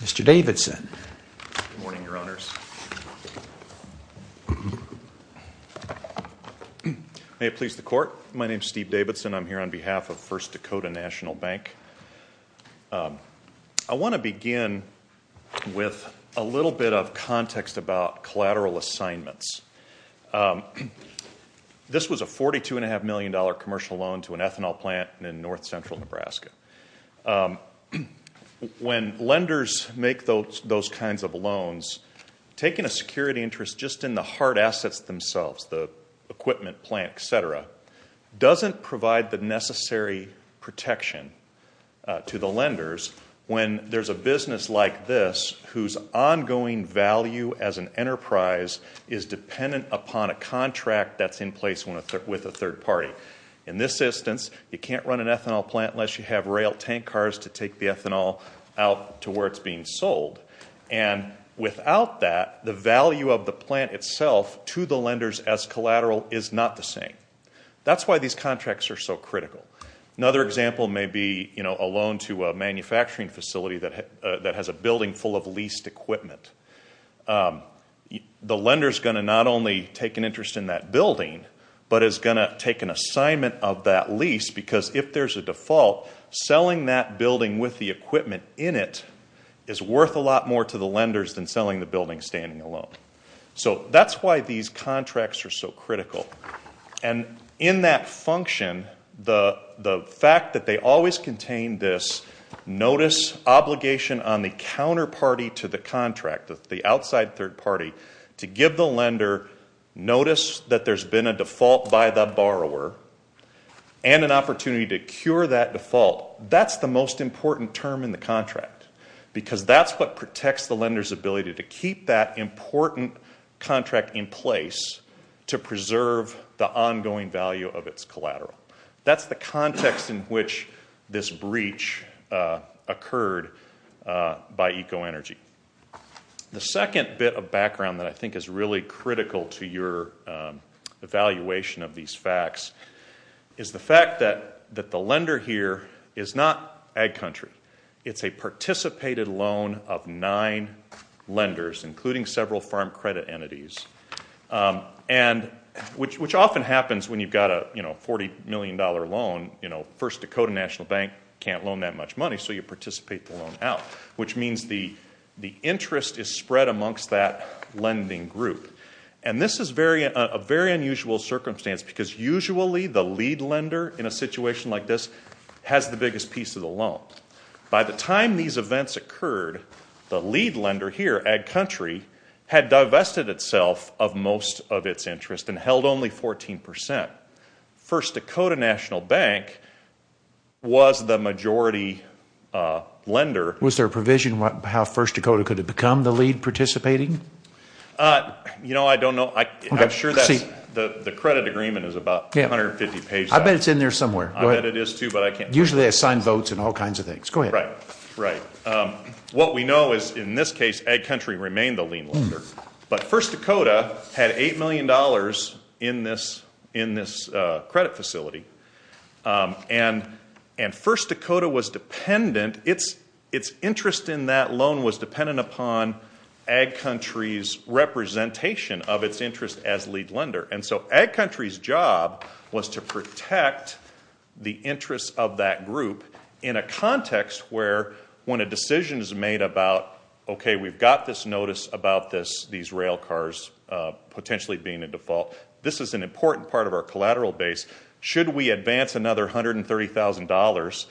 Mr. Davidson. Good morning, Your Honors. May it please the Court, my name is Steve Davidson. I'm here on behalf of First Dakota National Bank. I want to begin with a little bit of context about collateral assignments. This was a $42.5 million commercial loan to an ethanol plant in north central Nebraska. When lenders make those kinds of loans, taking a security interest just in the hard assets themselves, the equipment, plant, etc., doesn't provide the necessary protection to the lenders when there's a business like this whose ongoing value as an enterprise is dependent upon a contract that's in place with a third party. In this instance, you can't run an ethanol plant unless you have rail tank cars to take the ethanol out to where it's being sold. And without that, the value of the plant itself to the lenders as collateral is not the same. That's why these contracts are so critical. Another example may be a loan to a manufacturing facility that has a building full of leased equipment. The lender's going to not only take an interest in that building, but is going to take an assignment of that lease because if there's a default, selling that building with the equipment in it is worth a lot more to the lenders than selling the building. That's why these contracts are so critical. And in that function, the fact that they always contain this notice obligation on the counterparty to the contract, the outside third party, to give the lender notice that there's been a default by the borrower and an opportunity to cure that default, that's the most important term in the contract because that's what protects the lender's ability to keep that important contract in place to preserve the ongoing value of its collateral. That's the context in which this breach occurred by EcoEnergy. The second bit of background that I think is really critical to your evaluation of these facts is the fact that the lender here is not ag country. It's a participated loan of nine lenders, including several farm credit entities, which often happens when you've got a $40 million loan. First Dakota National Bank can't loan that much money, so you participate the loan out, which means the interest is spread amongst that lending group. And this is a very unusual circumstance because usually the lead lender in a situation like this has the biggest piece of the loan. By the time these events occurred, the lead lender here, ag country, had divested itself of most of its interest and held only 14%. First Dakota National Bank was the majority lender. Was there a provision on how First Dakota could have become the lead participating? You know, I don't know. I'm sure that's the credit agreement is about 150 pages. I bet it's in there somewhere. I bet it is, too, but I can't. Usually they assign votes and all kinds of things. Go ahead. Right. What we know is in this case, ag country remained the lead lender. But First Dakota had $8 million in this credit facility. And First Dakota was dependent, its interest in that loan was dependent upon ag country's representation of its interest as lead lender. And so ag country's job was to protect the interest of that group in a context where when a decision is made about, okay, we've got this notice about these rail cars potentially being a default. This is an important part of our collateral base. Should we advance another $130,000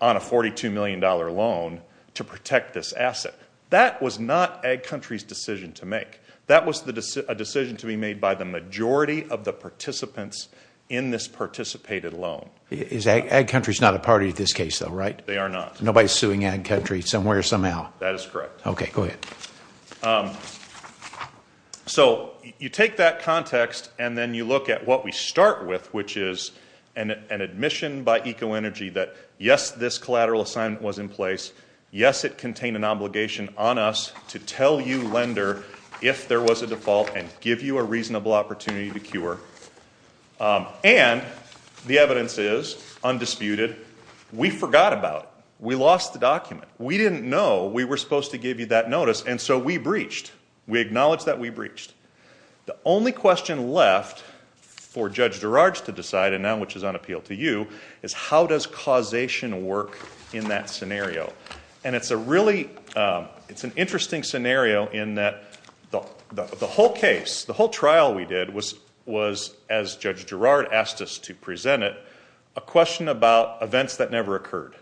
on a $42 million loan to protect this asset? That was not ag country's decision to make. That was a decision to be made by the majority of the participants in this participated loan. Ag country's not a party to this case, though, right? They are not. Nobody's suing ag country somewhere, somehow. That is correct. Okay. Go ahead. So you take that context and then you look at what we start with, which is an admission by EcoEnergy that, yes, this collateral assignment was in place. Yes, it contained an obligation on us to tell you lender if there was a default and give you a reasonable opportunity to cure. And the evidence is, undisputed, we forgot about it. We lost the document. We didn't know we were supposed to give you that notice. And so we breached. We acknowledged that we breached. The only question left for Judge Girard to decide, and now which is on appeal to you, is how does causation work in that scenario? And it's a really, it's an interesting scenario in that the whole case, the whole trial we did was, as Judge Girard asked us to present it, a question about events that never occurred.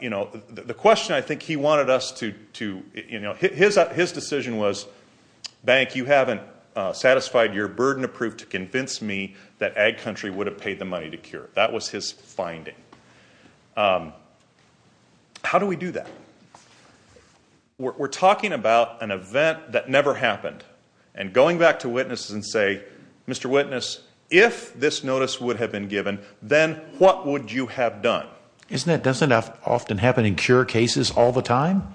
You know, the question I think he wanted us to, you know, his decision was, bank, you haven't satisfied your burden of proof to convince me that ag country would have paid the money to cure. That was his finding. How do we do that? We're talking about an event that never happened. And going back to witnesses and say, Mr. Witness, if this notice would have been given, then what would you have done? Isn't that, doesn't that often happen in cure cases all the time?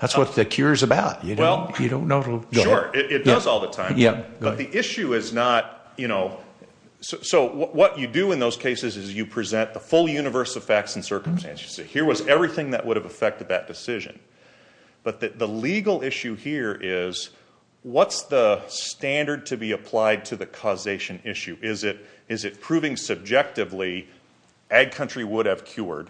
That's what the cure is about. You don't know. Sure, it does all the time. Yeah. But the issue is not, you know, so what you do in those cases is you present the full universe of facts and circumstances. You say, here was everything that would have affected that decision. But the legal issue here is, what's the standard to be applied to the causation issue? Is it proving subjectively, ag country would have cured,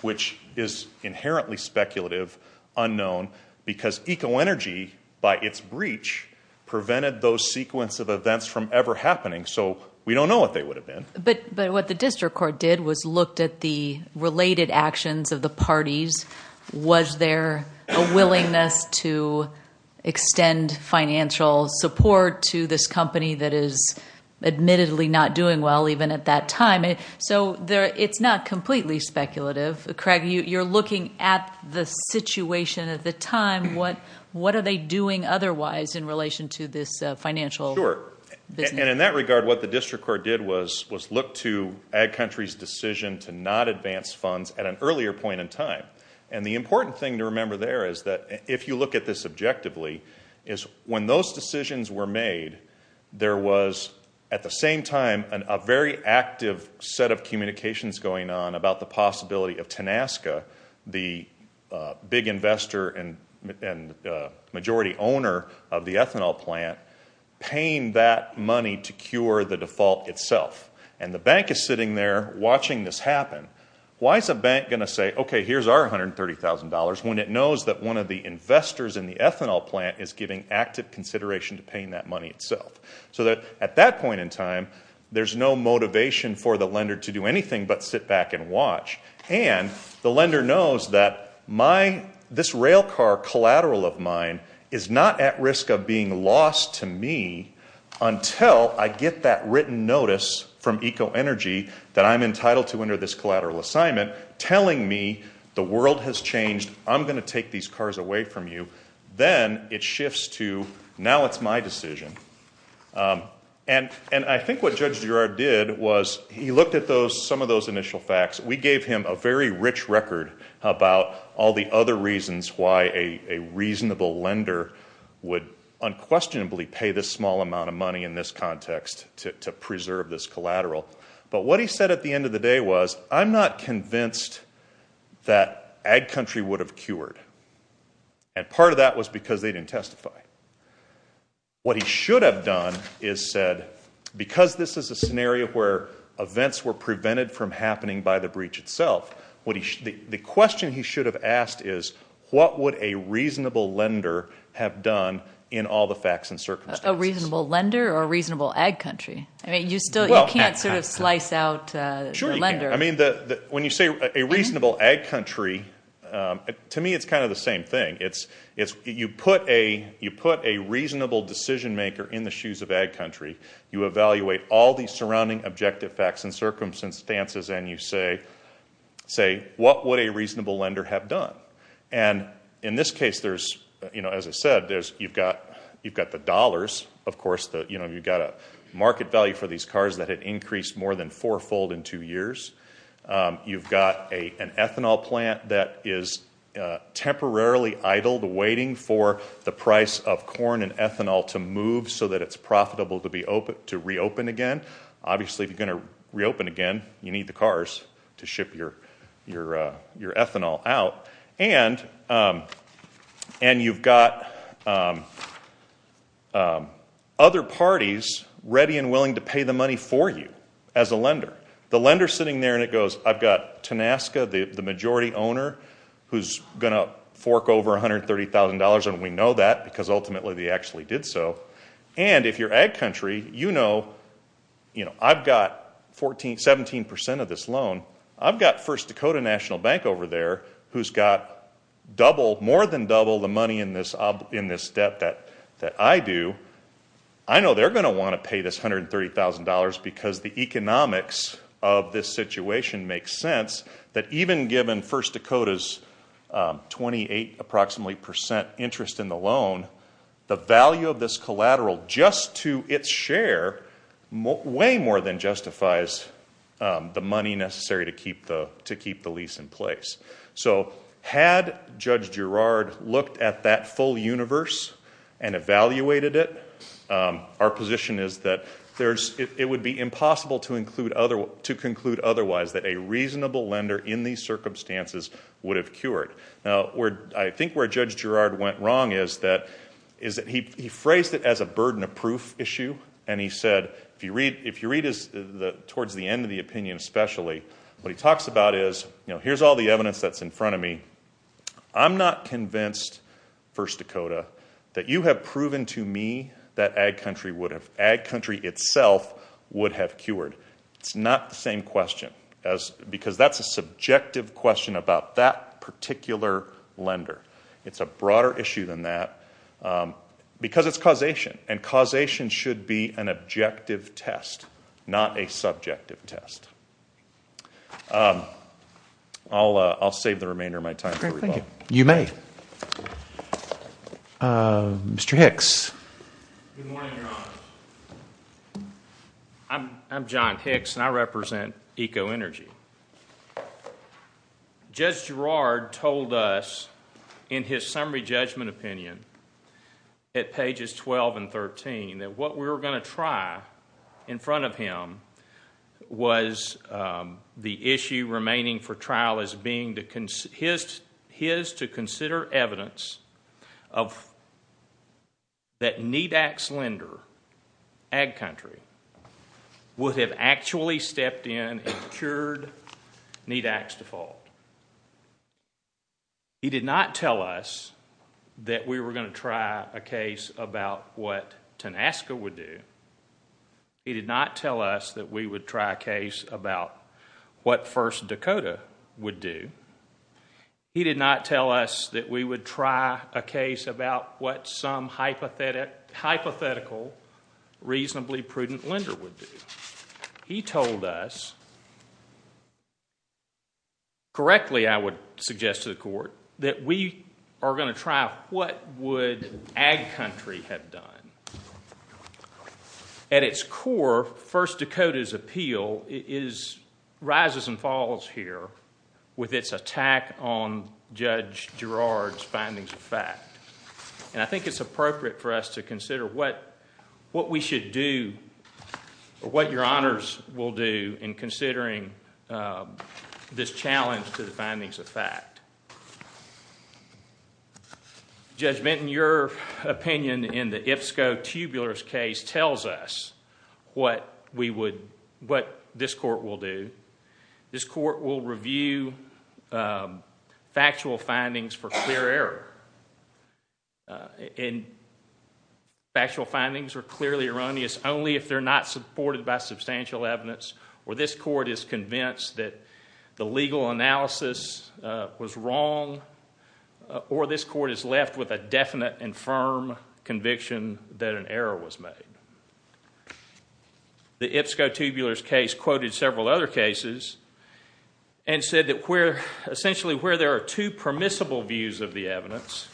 which is inherently speculative, unknown, because eco energy, by its breach, prevented those sequence of events from ever happening. So we don't know what they would have been. But what the district court did was looked at the related actions of the parties. Was there a willingness to extend financial support to this company that is admittedly not doing well, even at that time? So it's not completely speculative. Craig, you're looking at the situation at the time. What are they doing otherwise in relation to this financial- Sure. And in that regard, what the district court did was look to ag country's decision to not advance funds at an earlier point in time. And the important thing to remember there is that, if you look at this objectively, is when those decisions were made, there was, at the same time, a very active set of communications going on about the possibility of Tenasca, the big investor and majority owner of the ethanol plant, paying that money to cure the default itself. And the bank is sitting there watching this happen. Why is a bank going to say, okay, here's our $130,000, when it knows that one of the investors in the ethanol plant is giving active consideration to paying that money itself? So that, at that point in time, there's no motivation for the lender to do anything but sit back and watch. And the lender knows that this rail car collateral of mine is not at risk of being lost to me until I get that written notice from EcoEnergy that I'm entitled to under this collateral assignment, telling me the world has changed, I'm going to take these cars away from you. Then it shifts to, now it's my decision. And I think what Judge Girard did was he looked at some of those initial facts. We gave him a very rich record about all the other reasons why a reasonable lender would unquestionably pay this small amount of money in this context to preserve this collateral. But what he said at the end of the day was, I'm not convinced that ag country would have cured. And part of that was because they didn't testify. What he should have done is said, because this is a scenario where events were prevented from happening by the breach itself, the question he should have asked is, what would a reasonable lender have done in all the facts and circumstances? A reasonable lender or a reasonable ag country? I mean, you still can't sort of slice out the lender. I mean, when you say a reasonable ag country, to me it's kind of the same thing. You put a reasonable decision maker in the shoes of ag country, you evaluate all the surrounding objective facts and circumstances, and you say, what would a reasonable lender have done? And in this case, as I said, you've got the dollars, of course. You've got a market value for these cars that had increased more than fourfold in two years. You've got an ethanol plant that is temporarily idle, waiting for the price of corn and ethanol to move so that it's profitable to reopen again. Obviously, if you're going to reopen again, you need the cars to ship your ethanol out. And you've got other parties ready and willing to pay the money for you as a lender. The lender's sitting there and it goes, I've got Tenasca, the majority owner, who's going to fork over $130,000, and we know that because ultimately they actually did so. And if you're ag country, you know, I've got 17% of this loan. I've got First Dakota National Bank over there who's got double, more than double the money in this debt that I do. I know they're going to want to pay this $130,000 because the economics of this situation makes sense that even given First Dakota's 28 approximately percent interest in the loan, the value of this collateral just to its share way more than justifies the money necessary to keep the lease in place. So had Judge Girard looked at that full universe and evaluated it, our position is that it would be impossible to conclude otherwise that a reasonable lender in these circumstances would have cured. Now, I think where Judge Girard went wrong is that he phrased it as a burden of proof issue. And he said, if you read towards the end of the opinion especially, what he talks about is, you know, here's all the evidence that's in front of me. I'm not convinced, First Dakota, that you have proven to me that ag country would have, ag country itself would have cured. It's not the same question because that's a subjective question about that particular lender. It's a broader issue than that because it's causation. And causation should be an objective test, not a subjective test. I'll save the remainder of my time for rebuttal. Thank you. You may. Mr. Hicks. Good morning, Your Honor. I'm John Hicks and I represent EcoEnergy. Judge Girard told us in his summary judgment opinion at pages 12 and 13 that what we were going to try in front of him was the issue remaining for trial as being his to consider evidence that NEDAC's lender, ag country, would have actually stepped in and cured NEDAC's default. He did not tell us that we were going to try a case about what TANASCA would do. He did not tell us that we would try a case about what First Dakota would do. He did not tell us that we would try a case about what some hypothetical, reasonably prudent lender would do. He told us, correctly I would suggest to the court, that we are going to try what would ag country have done. At its core, First Dakota's appeal rises and falls here with its attack on Judge Girard's findings of fact and I think it's appropriate for us to consider what we should do or what Your Honors will do in considering this challenge to the findings of fact. Judgment in your opinion in the IPSCO tubular case tells us what this court will do. This court will review factual findings for clear error. Factual findings are clearly erroneous only if they're not supported by substantial evidence or this court is convinced that the legal analysis was wrong or this court is left with a definite and firm conviction that an error was made. The IPSCO tubulars case quoted several other cases and said that we're essentially where there are two permissible views of the evidence,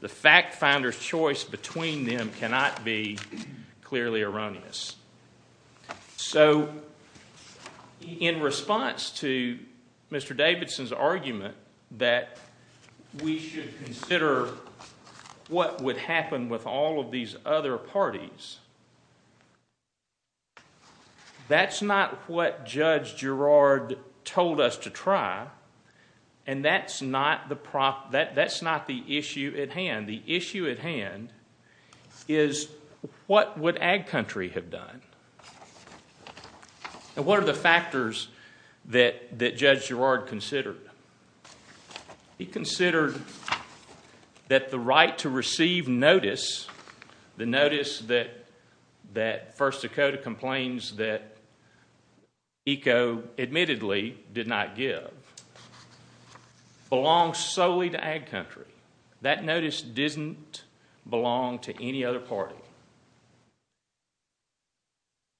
the fact finder's choice between them cannot be clearly erroneous. So in response to Mr. Davidson's argument that we should consider what would happen with all of these other parties, that's not what Judge Girard told us to try and that's not the issue at hand. The issue at hand is what would ag country have done and what are the factors that Judge Girard considered? He considered that the right to receive notice, the notice that First Dakota complains that ECO admittedly did not give, belongs solely to ag country. That notice doesn't belong to any other party.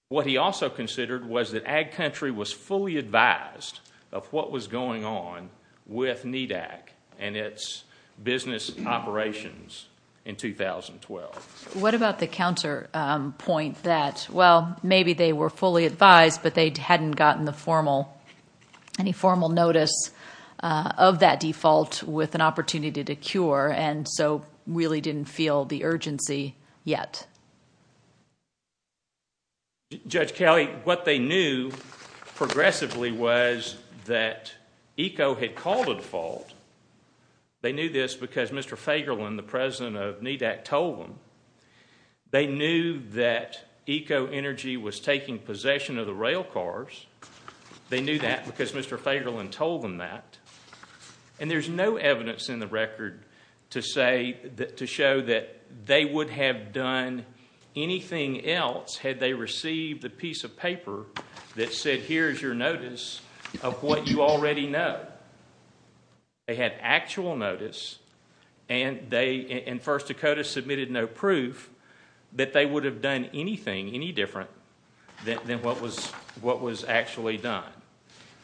What he also considered was that ag country was fully advised of what was going on with NEDAC and its business operations in 2012. What about the counter point that well maybe they were fully advised but they hadn't gotten any formal notice of that default with an opportunity to cure and so really didn't feel the urgency yet? Judge Kelly, what they knew progressively was that ECO had called a default. They knew this because Mr. Fagerlund, the president of NEDAC, told them. They knew that ECO Energy was taking possession of the rail cars. They knew that because Mr. Fagerlund told them that and there's no evidence in the record to say that to show that they would have done the same thing. Anything else had they received a piece of paper that said here's your notice of what you already know. They had actual notice and First Dakota submitted no proof that they would have done anything any different than what was actually done.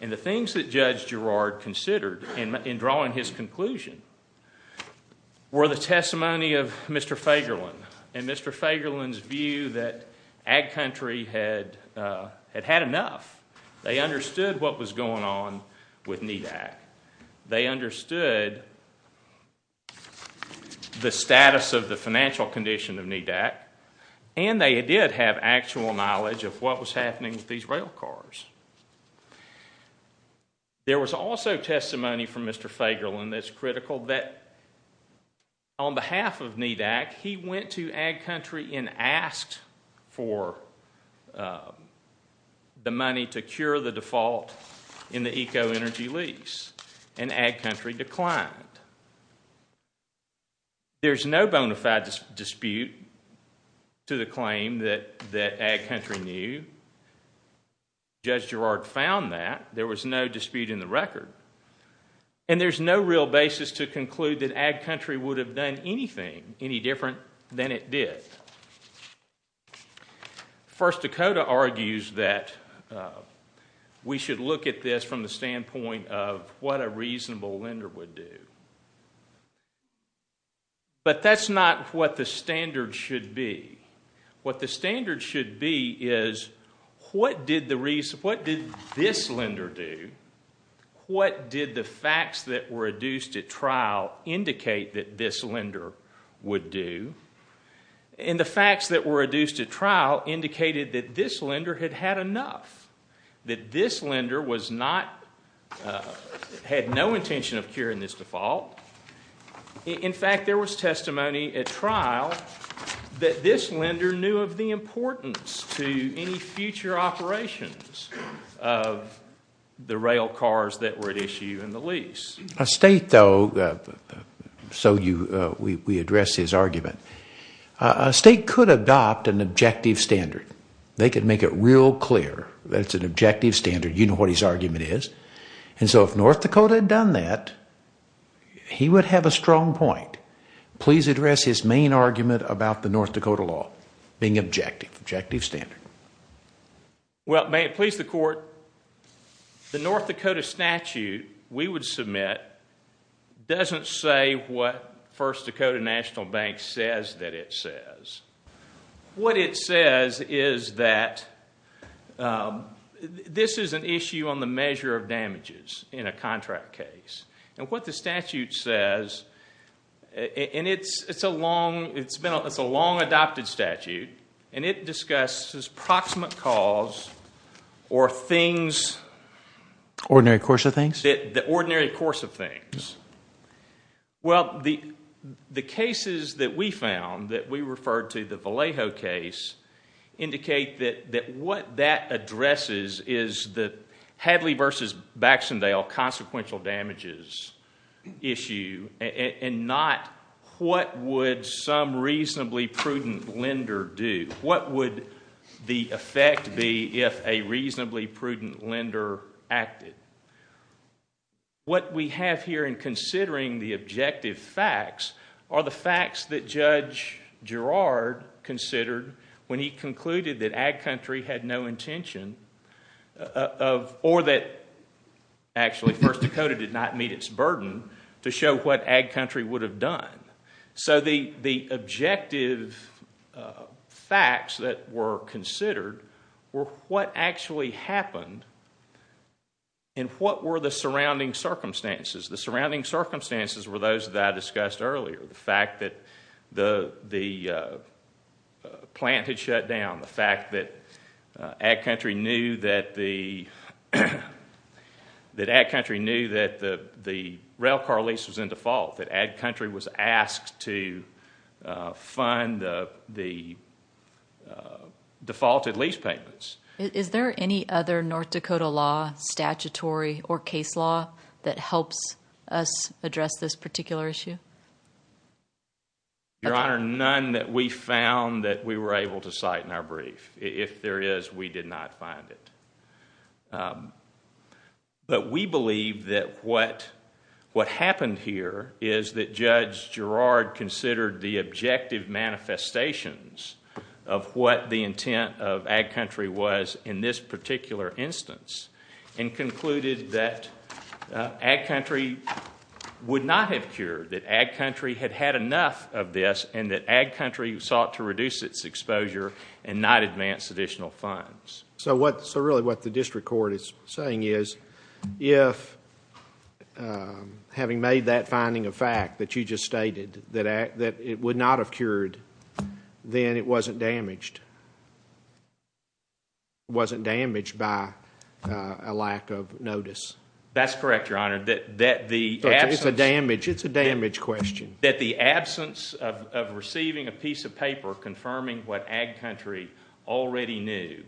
The things that Judge Girard considered in drawing his conclusion were the testimony of Mr. Fagerlund and Mr. Fagerlund's view that ag country had had enough. They understood what was going on with NEDAC. They understood the status of the financial condition of NEDAC and they did have actual knowledge of what was happening with these rail cars. There was also testimony from Mr. Fagerlund that's critical that on behalf of NEDAC, he went to ag country and asked for the money to cure the default in the ECO Energy lease and ag country declined. There's no bona fide dispute to the claim that that ag country knew. Judge Girard found that. There was no dispute in the record and there's no real basis to conclude that ag country would have done anything any different than it did. First Dakota argues that we should look at this from the standpoint of what a reasonable lender would do, but that's not what the standard should be. What the standard should be is what did this lender do? What did the facts that were adduced at trial indicate that this lender would do? The facts that were adduced at trial indicated that this lender had had enough, that this lender was not had no intention of curing this default. In fact, there was testimony at trial that this lender knew of the importance to any future operations of the rail cars that were at issue in the lease. A state though, so you we address his argument, a state could adopt an objective standard. They could make it real clear that it's an objective standard. You know what his argument is. And so if North Dakota had done that, he would have a strong point. Please address his main argument about the North Dakota law being objective, objective standard. Well, may it please the court, the North Dakota statute we would submit doesn't say what First it says is that this is an issue on the measure of damages in a contract case. And what the statute says, and it's a long adopted statute, and it discusses proximate cause or things. The ordinary course of things. Well, the cases that we found that we referred to, the Vallejo case, indicate that what that addresses is the Hadley versus Baxendale consequential damages issue and not what would some reasonably prudent lender do. What would the effect be if a What we have here in considering the objective facts are the facts that Judge Gerard considered when he concluded that ag country had no intention or that actually First Dakota did not meet its burden to show what ag country would have done. So the objective facts that were circumstances. The surrounding circumstances were those that I discussed earlier. The fact that the plant had shut down. The fact that ag country knew that the rail car lease was in default. That ag country was asked to fund the defaulted lease payments. Is there any other North Dakota law, statutory, or case law that helps us address this particular issue? Your Honor, none that we found that we were able to cite in our brief. If there is, we did not find it. But we believe that what happened here is that Judge Gerard considered the objective manifestations of what the intent of ag country was in this particular instance and concluded that ag country would not have cured. That ag country had had enough of this and that ag country sought to reduce its exposure and not advance additional funds. So really what the district court is saying is if having made that finding a fact that you just then it wasn't damaged. It wasn't damaged by a lack of notice. That's correct, Your Honor. It's a damage question. That the absence of receiving a piece of paper confirming what ag country already knew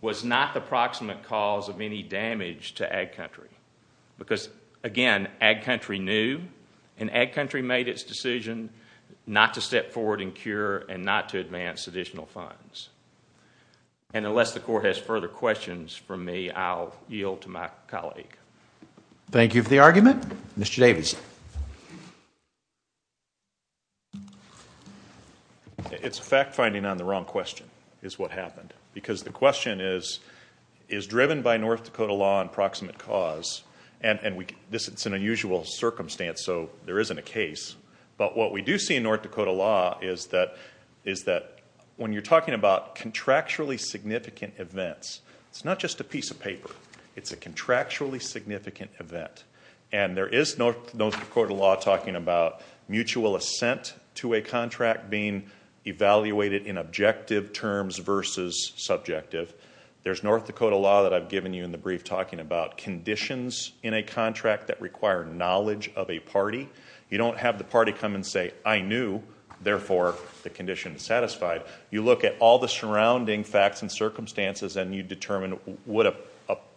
was not the proximate cause of any damage to ag country. Because, again, ag country knew and ag country made its decision not to step forward and cure and not to advance additional funds. And unless the court has further questions from me, I'll yield to my colleague. Thank you for the argument. Mr. Davidson. It's fact finding on the wrong question is what happened. Because the question is, is driven by North Dakota law and proximate cause. And this is an unusual circumstance, so there isn't a case. But what we do see in North Dakota law is that when you're talking about contractually significant events, it's not just a piece of paper. It's a contractually significant event. And there is North Dakota law talking about mutual assent to a contract being that I've given you in the brief talking about conditions in a contract that require knowledge of a party. You don't have the party come and say, I knew, therefore, the condition is satisfied. You look at all the surrounding facts and circumstances and you determine would a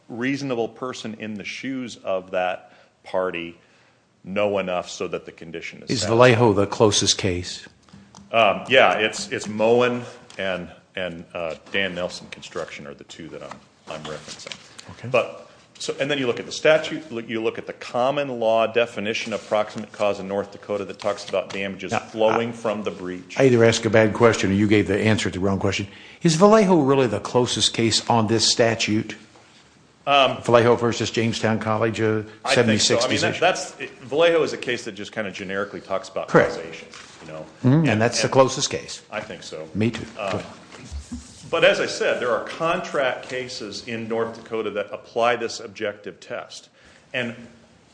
reasonable person in the shoes of that party know enough so that the condition is- Is Vallejo the closest case? Yeah, it's Mowen and Dan Nelson construction are the two that I'm referencing. And then you look at the statute, you look at the common law definition of proximate cause in North Dakota that talks about damages flowing from the breach. I either ask a bad question or you gave the answer to the wrong question. Is Vallejo really the closest case on this statute? Vallejo versus Jamestown College, 76- I think so. Vallejo is a case that just kind of generically talks about causation. And that's the closest case. I think so. Me too. But as I said, there are contract cases in North Dakota that apply this objective test. And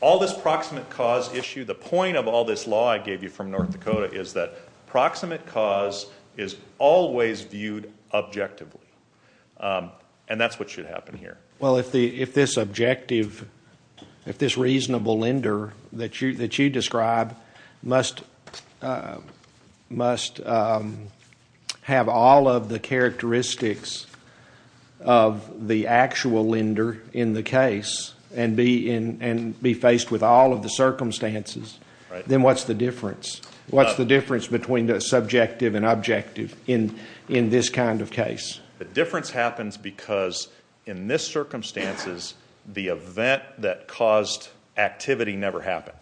all this proximate cause issue, the point of all this law I gave you from North Dakota is that proximate cause is always viewed objectively. And that's what should happen here. Well, if this objective, if this reasonable lender that you describe must have all of the characteristics of the actual lender in the case and be faced with all of the circumstances, then what's the difference? What's the difference between the subjective and objective in this kind of case? The difference happens because in this circumstances, the event that caused activity never happened.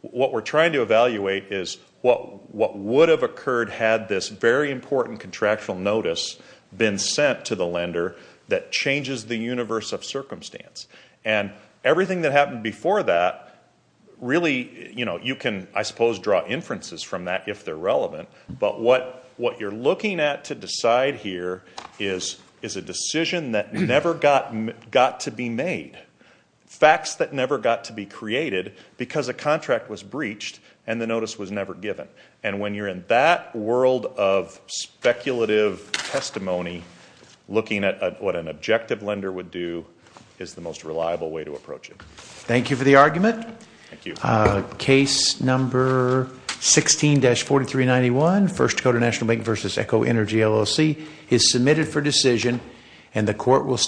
What we're trying to evaluate is what would have occurred had this very important contractual notice been sent to the lender that changes the universe of circumstance. And everything that happened before that really, you can, I suppose, draw inferences from that if they're relevant. But what you're looking at to decide here is a decision that never got to be made. Facts that never got to be created because a contract was breached and the notice was never given. And when you're in that world of speculative testimony, looking at what an objective lender would do is the most reliable way to approach it. Thank you for the argument. Thank you. Case number 16-4391, First Dakota National Bank versus Echo Energy LLC, is submitted for decision and the court will